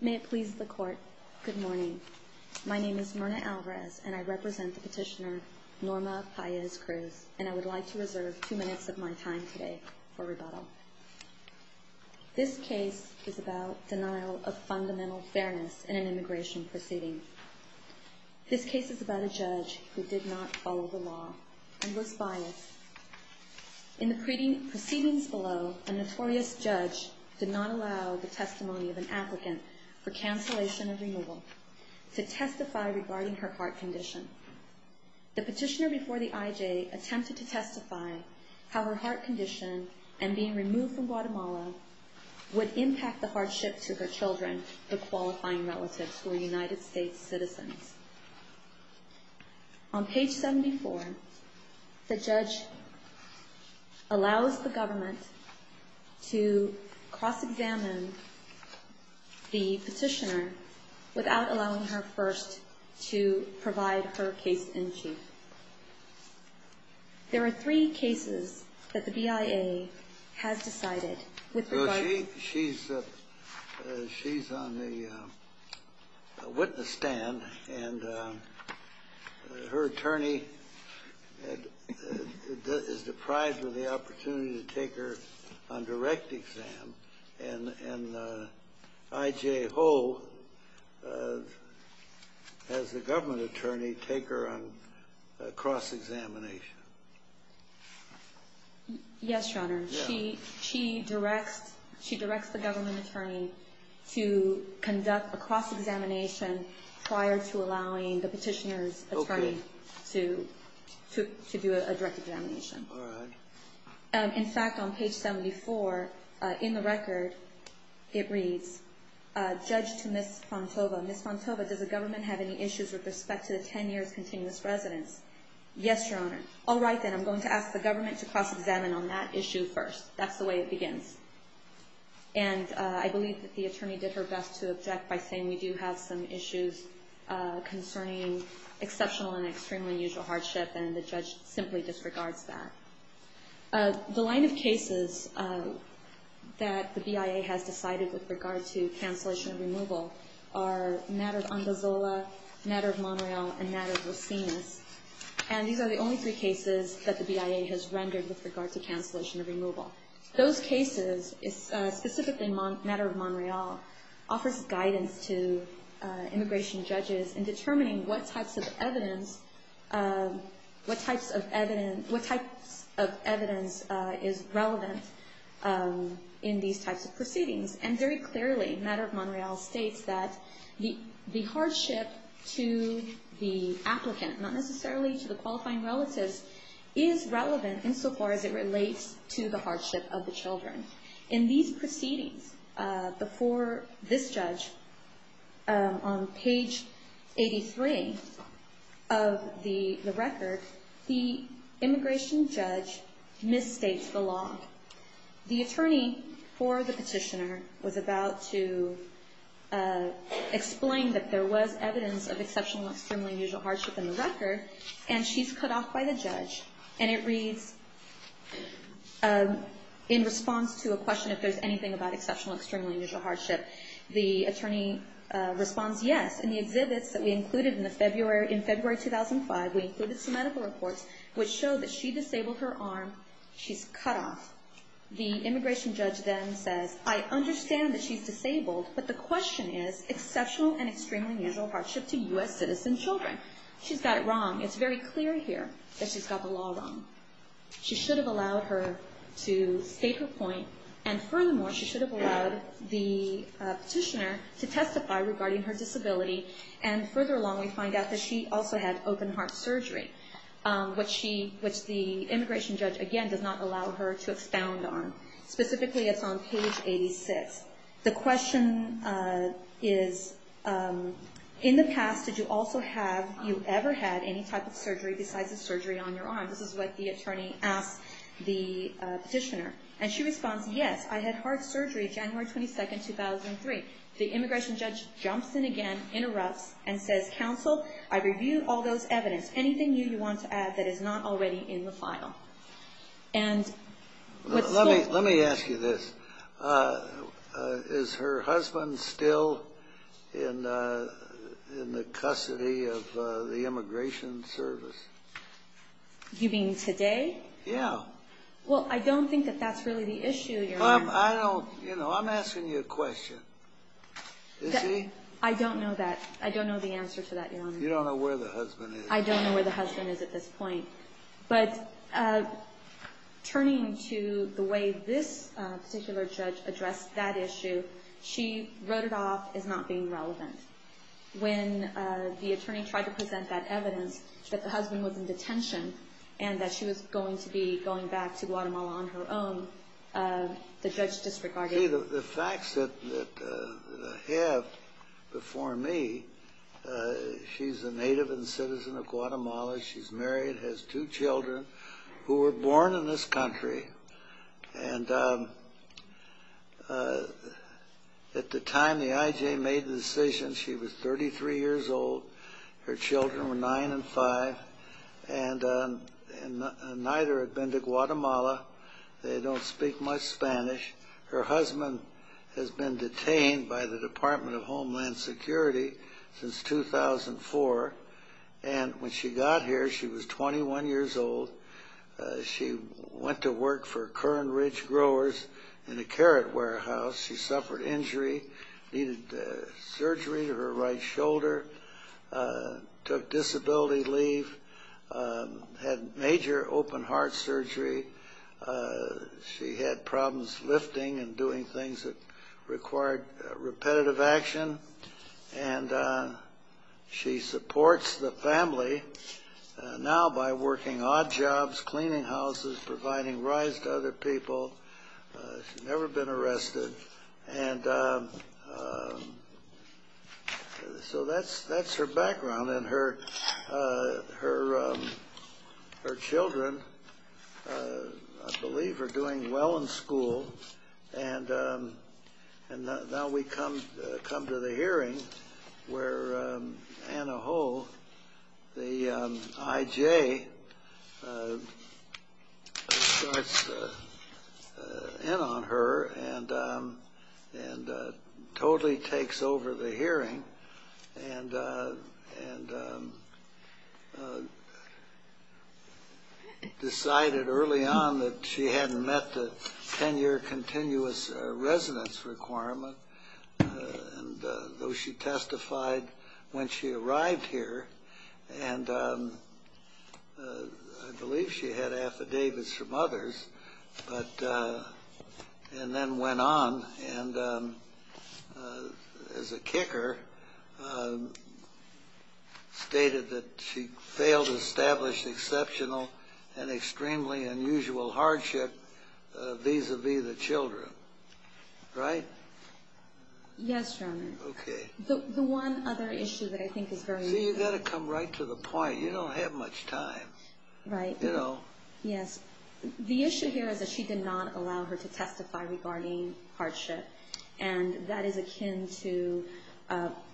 May it please the court, good morning. My name is Myrna Alvarez and I represent the petitioner Norma Paiz Cruz and I would like to reserve two minutes of my time today for rebuttal. This case is about denial of fundamental fairness in an immigration proceeding. This case is about a judge who did not follow the law and was biased. In the proceedings below, a notorious judge did not allow the testimony of an applicant for cancellation of removal to testify regarding her heart condition. The petitioner before the IJ attempted to testify how her heart condition and being removed from Guatemala would impact the hardship to her children, the qualifying relatives who are United States citizens. On page 74, the judge allows the government to cross-examine the petitioner without allowing her first to provide her case-in-chief. There are three cases that the BIA has decided. She's on the witness stand and her attorney is deprived of the opportunity to take her on direct exam and IJ Ho has the government attorney take her on cross-examination. Yes, Your Honor. She directs the government attorney to conduct a cross-examination prior to allowing the petitioner's attorney to do a direct examination. In fact, on page 74, in the record, it reads, Judge to Ms. Fontova, Ms. Fontova, does the government have any issues with respect to the 10 years continuous residence? Yes, Your Honor. All right then, I'm going to ask the government to cross-examine on that issue first. That's the way it begins. And I believe that the attorney did her best to object by saying we do have some issues concerning exceptional and extremely unusual hardship and the judge simply disregards that. The line of cases that the BIA has decided with regard to cancellation of removal are Nader of Andazola, Nader of Montreal, and Nader of Rosinas. And these are the only three cases that the BIA has rendered with regard to cancellation of removal. Those cases, specifically Nader of Montreal, offers guidance to immigration judges in determining what types of evidence is relevant in these types of proceedings. And very clearly, Nader of Montreal states that the hardship to the applicant, not necessarily to the qualifying relatives, is relevant insofar as it relates to the hardship of the children. In these proceedings, before this judge, on page 83 of the record, the immigration judge misstates the law. The attorney for the petitioner was about to explain that there was evidence of exceptional and extremely unusual hardship in the record, and she's cut off by the judge. And it reads, in response to a question if there's anything about exceptional and extremely unusual hardship, the attorney responds yes. In the exhibits that we included in February 2005, we included some medical reports which show that she disabled her arm. She's cut off. The immigration judge then says, I understand that she's disabled, but the question is exceptional and extremely unusual hardship to U.S. citizen children. She's got it wrong. It's very clear here that she's got the law wrong. She should have allowed her to state her point, and furthermore, she should have allowed the petitioner to testify regarding her disability. And further along, we find out that she also had open-heart surgery, which the immigration judge, again, does not allow her to expound on. Specifically, it's on page 86. The question is, in the past, did you also have, you ever had any type of surgery besides the surgery on your arm? This is what the attorney asked the petitioner. And she responds, yes, I had heart surgery January 22, 2003. The immigration judge jumps in again, interrupts, and says, counsel, I reviewed all those evidence. Anything new you want to add that is not already in the file? Let me ask you this. Is her husband still in the custody of the immigration service? You mean today? Yeah. Well, I don't think that that's really the issue. I don't, you know, I'm asking you a question. Is he? I don't know that. I don't know the answer to that, Your Honor. You don't know where the husband is? I don't know where the husband is at this point. But turning to the way this particular judge addressed that issue, she wrote it off as not being relevant. When the attorney tried to present that evidence that the husband was in detention and that she was going to be going back to Guatemala on her own, the judge disregarded it. See, the facts that I have before me, she's a native and citizen of Guatemala. She's married, has two children who were born in this country. And at the time the IJ made the decision, she was 33 years old. Her children were nine and five. And neither had been to Guatemala. They don't speak much Spanish. Her husband has been detained by the Department of Homeland Security since 2004. And when she got here, she was 21 years old. She went to work for Curran Ridge Growers in a carrot warehouse. She suffered injury, needed surgery to her right shoulder, took disability leave, had major open-heart surgery. She had problems lifting and doing things that required repetitive action. And she supports the family now by working odd jobs, cleaning houses, providing rides to other people. She's never been arrested. And so that's her background. And her children, I believe, are doing well in school. And now we come to the hearing where Anna Ho, the IJ, starts in on her and totally takes over the hearing and decided early on that she hadn't met the 10-year continuous residence requirement, though she testified when she arrived here. And I believe she had affidavits from others and then went on. And as a kicker, stated that she failed to establish exceptional and extremely unusual hardship vis-à-vis the children. Right? Yes, General. Okay. The one other issue that I think is very important. See, you've got to come right to the point. You don't have much time. Right. You know. Yes. The issue here is that she did not allow her to testify regarding hardship. And that is akin to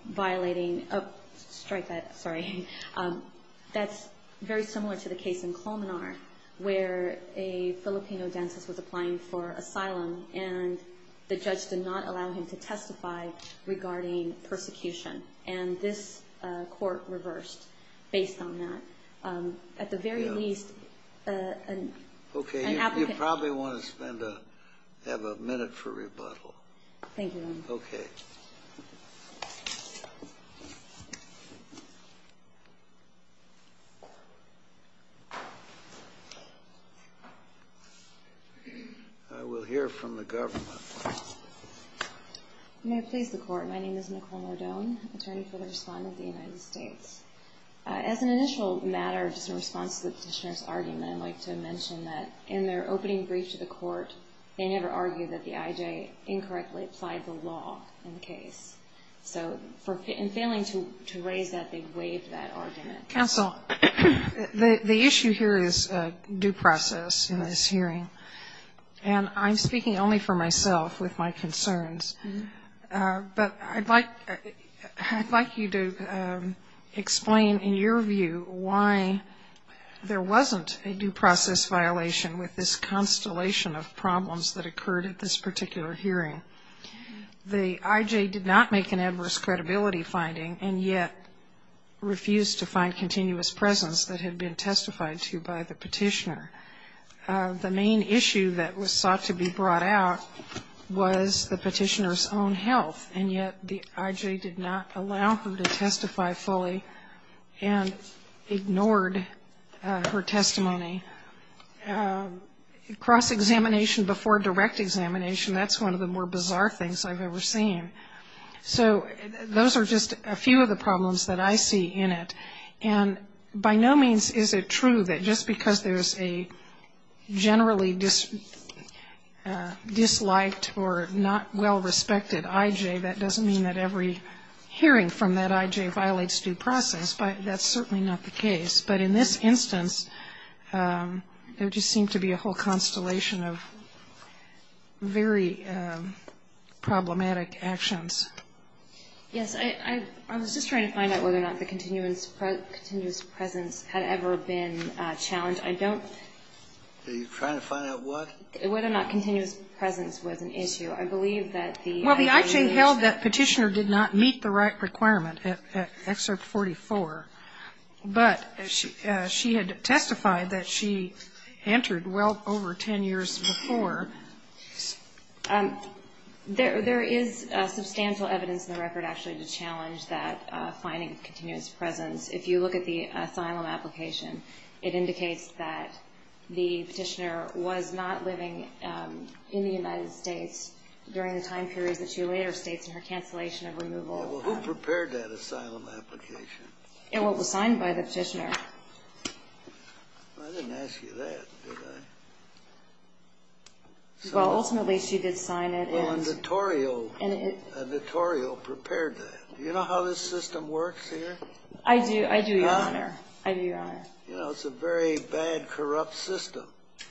violating a strike. Sorry. That's very similar to the case in Colmenar where a Filipino dentist was applying for asylum and the judge did not allow him to testify regarding persecution. And this court reversed based on that. Yes. Okay. You probably want to have a minute for rebuttal. Thank you, Your Honor. Okay. I will hear from the government. May I please the Court? My name is Nicole Modone, attorney for the Respondent of the United States. As an initial matter, just in response to the Petitioner's argument, I'd like to mention that in their opening brief to the Court, they never argued that the IJ incorrectly applied the law in the case. So in failing to raise that, they waived that argument. Counsel, the issue here is due process in this hearing. And I'm speaking only for myself with my concerns. But I'd like you to explain, in your view, why there wasn't a due process violation with this constellation of problems that occurred at this particular hearing. The IJ did not make an adverse credibility finding and yet refused to find continuous presence that had been testified to by the Petitioner. The main issue that was sought to be brought out was the Petitioner's own health, and yet the IJ did not allow her to testify fully and ignored her testimony. Cross-examination before direct examination, that's one of the more bizarre things I've ever seen. So those are just a few of the problems that I see in it. And by no means is it true that just because there's a generally disliked or not well-respected IJ, that doesn't mean that every hearing from that IJ violates due process. But that's certainly not the case. But in this instance, there just seemed to be a whole constellation of very problematic actions. Yes. I was just trying to find out whether or not the continuous presence had ever been challenged. I don't... Are you trying to find out what? Whether or not continuous presence was an issue. I believe that the IJ... Well, the IJ held that Petitioner did not meet the right requirement at Excerpt 44, but she had testified that she entered well over 10 years before. There is substantial evidence in the record actually to challenge that finding continuous presence. If you look at the asylum application, it indicates that the Petitioner was not living in the United States during the time period that she later states in her cancellation of removal. Well, who prepared that asylum application? It was signed by the Petitioner. I didn't ask you that, did I? Well, ultimately she did sign it. Well, a notarial prepared that. Do you know how this system works here? I do, Your Honor. You know, it's a very bad, corrupt system.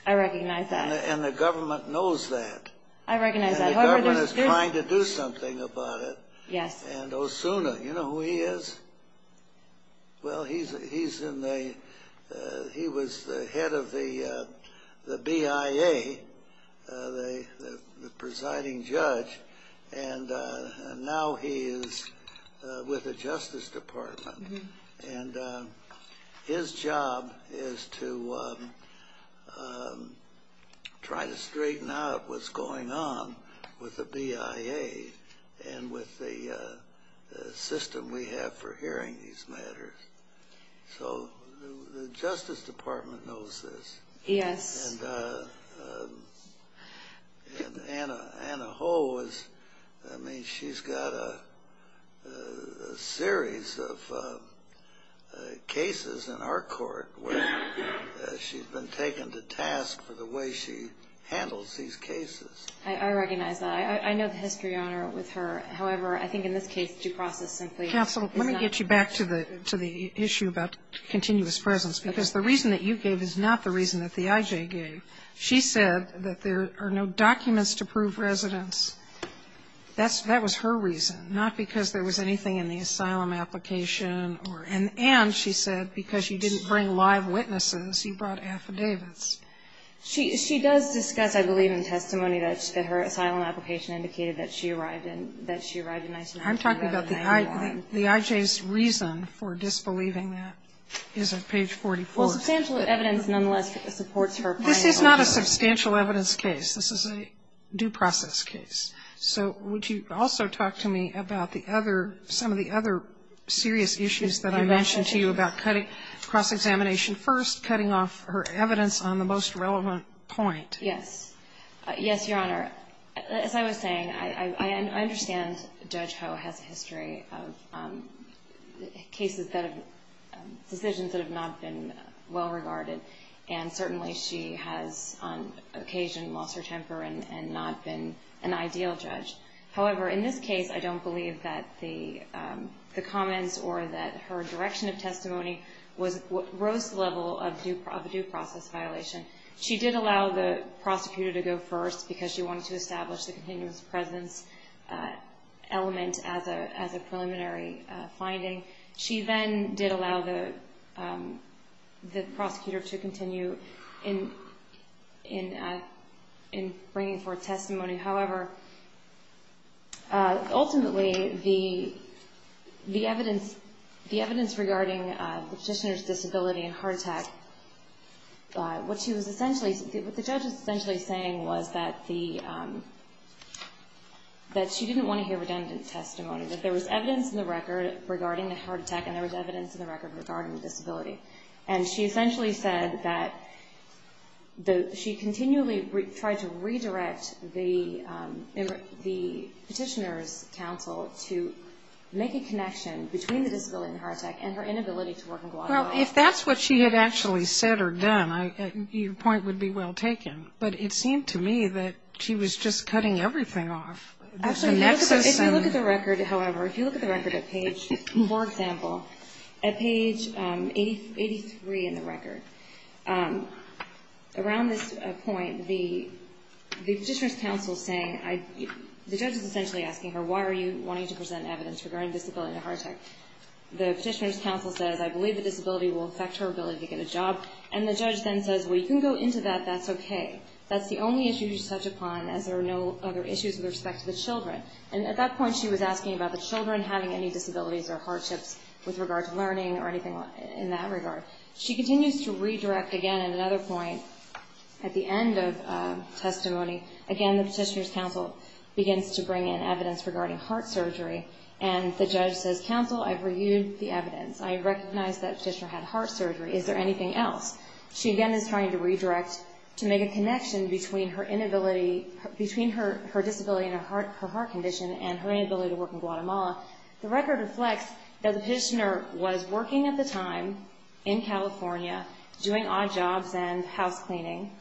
I recognize that. And the government knows that. I recognize that. And the government is trying to do something about it. Yes. And Osuna, you know who he is? Well, he was the head of the BIA, the presiding judge. And now he is with the Justice Department. And his job is to try to straighten out what's going on with the BIA and with the system we have for hearing these matters. So the Justice Department knows this. Yes. And Anna Ho, I mean, she's got a series of cases in our court where she's been taken to task for the way she handles these cases. I recognize that. I know the history, Your Honor, with her. However, I think in this case due process simply is not. Counsel, let me get you back to the issue about continuous presence. Because the reason that you gave is not the reason that the I.J. gave. She said that there are no documents to prove residence. That was her reason, not because there was anything in the asylum application. And she said because you didn't bring live witnesses, you brought affidavits. She does discuss, I believe, in testimony that her asylum application indicated that she arrived in 1991. I'm talking about the I.J.'s reason for disbelieving that is on page 44. Well, substantial evidence nonetheless supports her point. This is not a substantial evidence case. This is a due process case. So would you also talk to me about the other, some of the other serious issues that I mentioned to you about cross-examination first, cutting off her evidence on the most relevant point? Yes. Yes, Your Honor. As I was saying, I understand Judge Ho has a history of cases that have, decisions that have not been well regarded. And certainly she has on occasion lost her temper and not been an ideal judge. However, in this case, I don't believe that the comments or that her direction of testimony was, rose the level of a due process violation. She did allow the prosecutor to go first because she wanted to establish the continuous presence element as a preliminary finding. She then did allow the prosecutor to continue in bringing forth testimony. However, ultimately the evidence, the evidence regarding the petitioner's disability and heart attack, what she was essentially, what the judge was essentially saying was that the, that she didn't want to hear redundant testimony. That there was evidence in the record regarding the heart attack and there was evidence in the record regarding the disability. And she essentially said that the, she continually tried to redirect the petitioner's counsel to make a connection between the disability and the heart attack and her inability to work and go on and on. Well, if that's what she had actually said or done, your point would be well taken. But it seemed to me that she was just cutting everything off. The nexus. If you look at the record, however, if you look at the record at page, for example, at page 83 in the record, around this point, the petitioner's counsel is saying, the judge is essentially asking her, why are you wanting to present evidence regarding disability and heart attack? The petitioner's counsel says, I believe the disability will affect her ability to get a job. And the judge then says, well, you can go into that, that's okay. That's the only issue you should touch upon as there are no other issues with respect to the children. And at that point she was asking about the children having any disabilities or hardships with regard to learning or anything in that regard. She continues to redirect again at another point. At the end of testimony, again, the petitioner's counsel begins to bring in evidence regarding heart surgery. And the judge says, counsel, I've reviewed the evidence. I recognize that petitioner had heart surgery. Is there anything else? She again is trying to redirect to make a connection between her inability, between her disability and her heart condition and her inability to work in Guatemala. The record reflects that the petitioner was working at the time in California, doing odd jobs and house cleaning,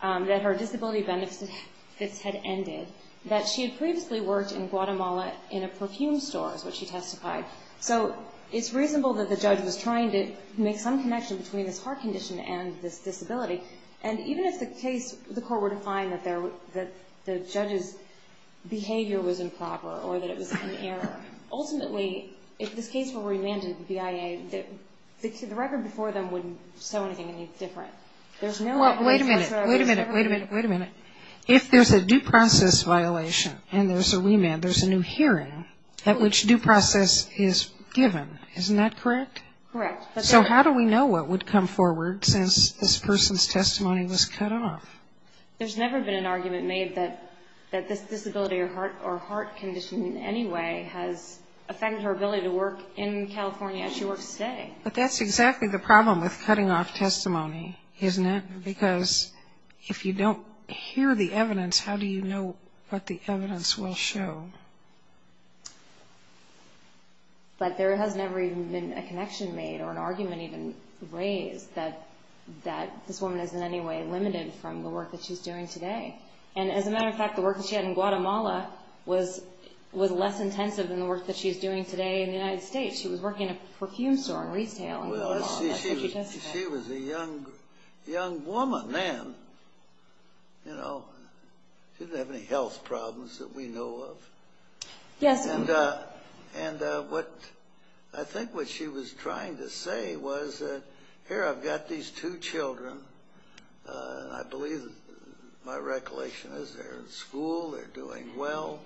that her disability benefits had ended, that she had previously worked in Guatemala in a perfume store is what she testified. So it's reasonable that the judge was trying to make some connection between this heart condition and this disability. And even if the case, the court were to find that the judge's behavior was improper or that it was an error, ultimately if this case were remanded to the BIA, the record before them wouldn't show anything any different. There's no evidence. Wait a minute. Wait a minute. Wait a minute. Wait a minute. If there's a due process violation and there's a remand, there's a new hearing at which due process is given. Isn't that correct? Correct. So how do we know what would come forward since this person's testimony was cut off? There's never been an argument made that this disability or heart condition in any way has affected her ability to work in California as she works today. But that's exactly the problem with cutting off testimony, isn't it? Because if you don't hear the evidence, how do you know what the evidence will show? But there has never even been a connection made or an argument even raised that this woman is in any way limited from the work that she's doing today. And as a matter of fact, the work that she had in Guatemala was less intensive than the work that she's doing today in the United States. She was working at a perfume store in Reed's Tale. She was a young woman then. She didn't have any health problems that we know of. Yes. And I think what she was trying to say was, here I've got these two children and I believe my recollection is they're in school, they're doing well.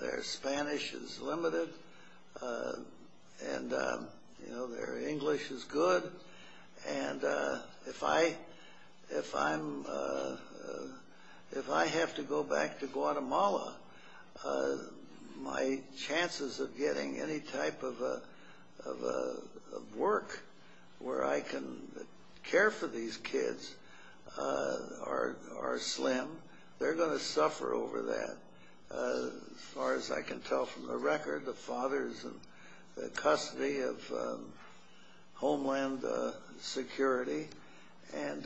Their Spanish is limited and their English is good. And if I have to go back to Guatemala, my chances of getting any type of work where I can care for these kids are slim. They're going to suffer over that. As far as I can tell from the record, the father is in custody of Homeland Security. And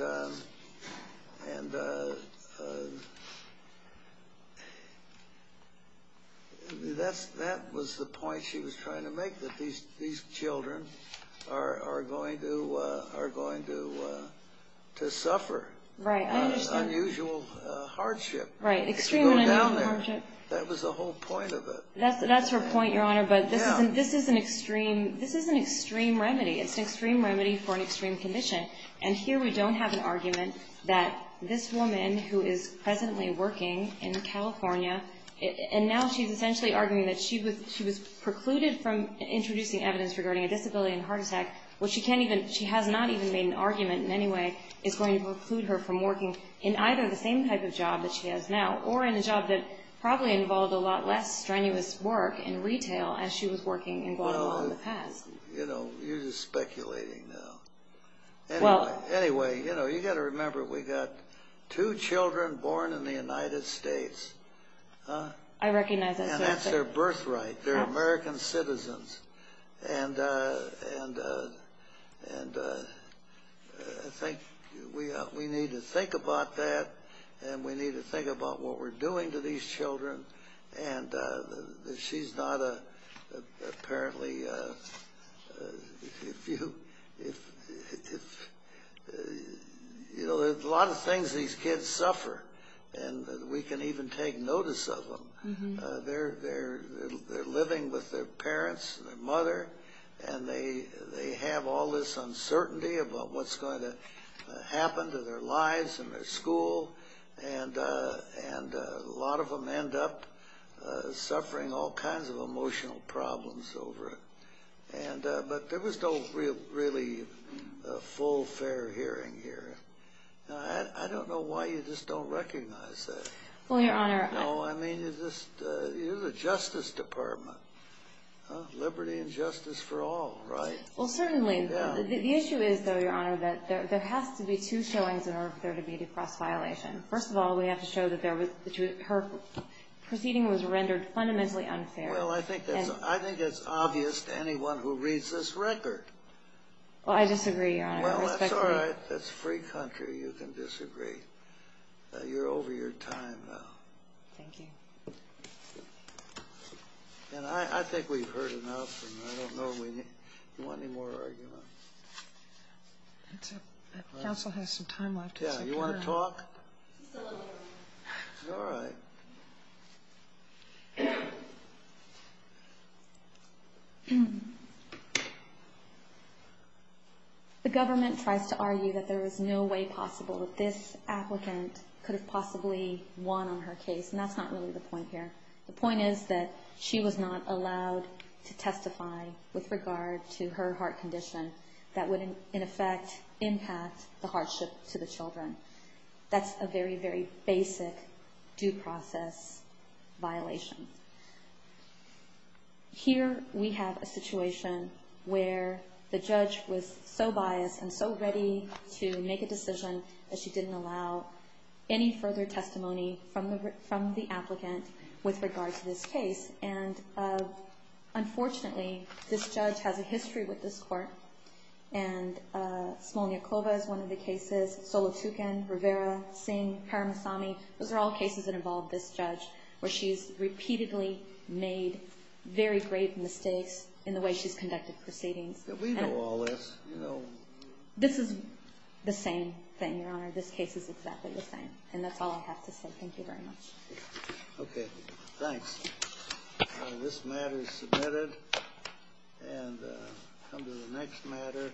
that was the point she was trying to make, that these children are going to suffer unusual hardship. Right. Extreme hardship. That was the whole point of it. That's her point, Your Honor, but this is an extreme remedy. It's an extreme remedy for an extreme condition. And here we don't have an argument that this woman, who is presently working in California, and now she's essentially arguing that she was precluded from introducing evidence regarding a disability and heart attack, which she has not even made an argument in any way, is going to preclude her from working in either the same type of job that she has now or in a job that probably involved a lot less strenuous work in retail as she was working in Guatemala in the past. You know, you're just speculating now. Anyway, you've got to remember we've got two children born in the United States. I recognize that. And that's their birthright. They're American citizens. And I think we need to think about that, and we need to think about what we're doing to these children. And she's not apparently a few. You know, there's a lot of things these kids suffer, and we can even take notice of them. They're living with their parents and their mother, and they have all this uncertainty about what's going to happen to their lives and their school, and a lot of them end up suffering all kinds of emotional problems over it. But there was no really full, fair hearing here. I don't know why you just don't recognize that. Well, Your Honor. No, I mean, you're the Justice Department. Liberty and justice for all, right? Well, certainly. The issue is, though, Your Honor, that there has to be two showings in order for there to be a cross-violation. First of all, we have to show that her proceeding was rendered fundamentally unfair. Well, I think that's obvious to anyone who reads this record. Well, I disagree, Your Honor. Well, that's all right. That's free country. You can disagree. You're over your time now. Thank you. And I think we've heard enough, and I don't know if you want any more argument. That's it. Counsel has some time left. Yeah. You want to talk? No. All right. Thank you. The government tries to argue that there is no way possible that this applicant could have possibly won on her case, and that's not really the point here. The point is that she was not allowed to testify with regard to her heart condition that would, in effect, impact the hardship to the children. That's a very, very basic due process violation. Here we have a situation where the judge was so biased and so ready to make a decision that she didn't allow any further testimony from the applicant with regard to this case, and unfortunately this judge has a history with this court, and Smolniakova is one of the cases, Solotukhin, Rivera, Singh, Karamasami. Those are all cases that involve this judge where she's repeatedly made very grave mistakes in the way she's conducted proceedings. We know all this. This is the same thing, Your Honor. This case is exactly the same, and that's all I have to say. Thank you very much. Okay. Thanks. This matter is submitted. And come to the next matter.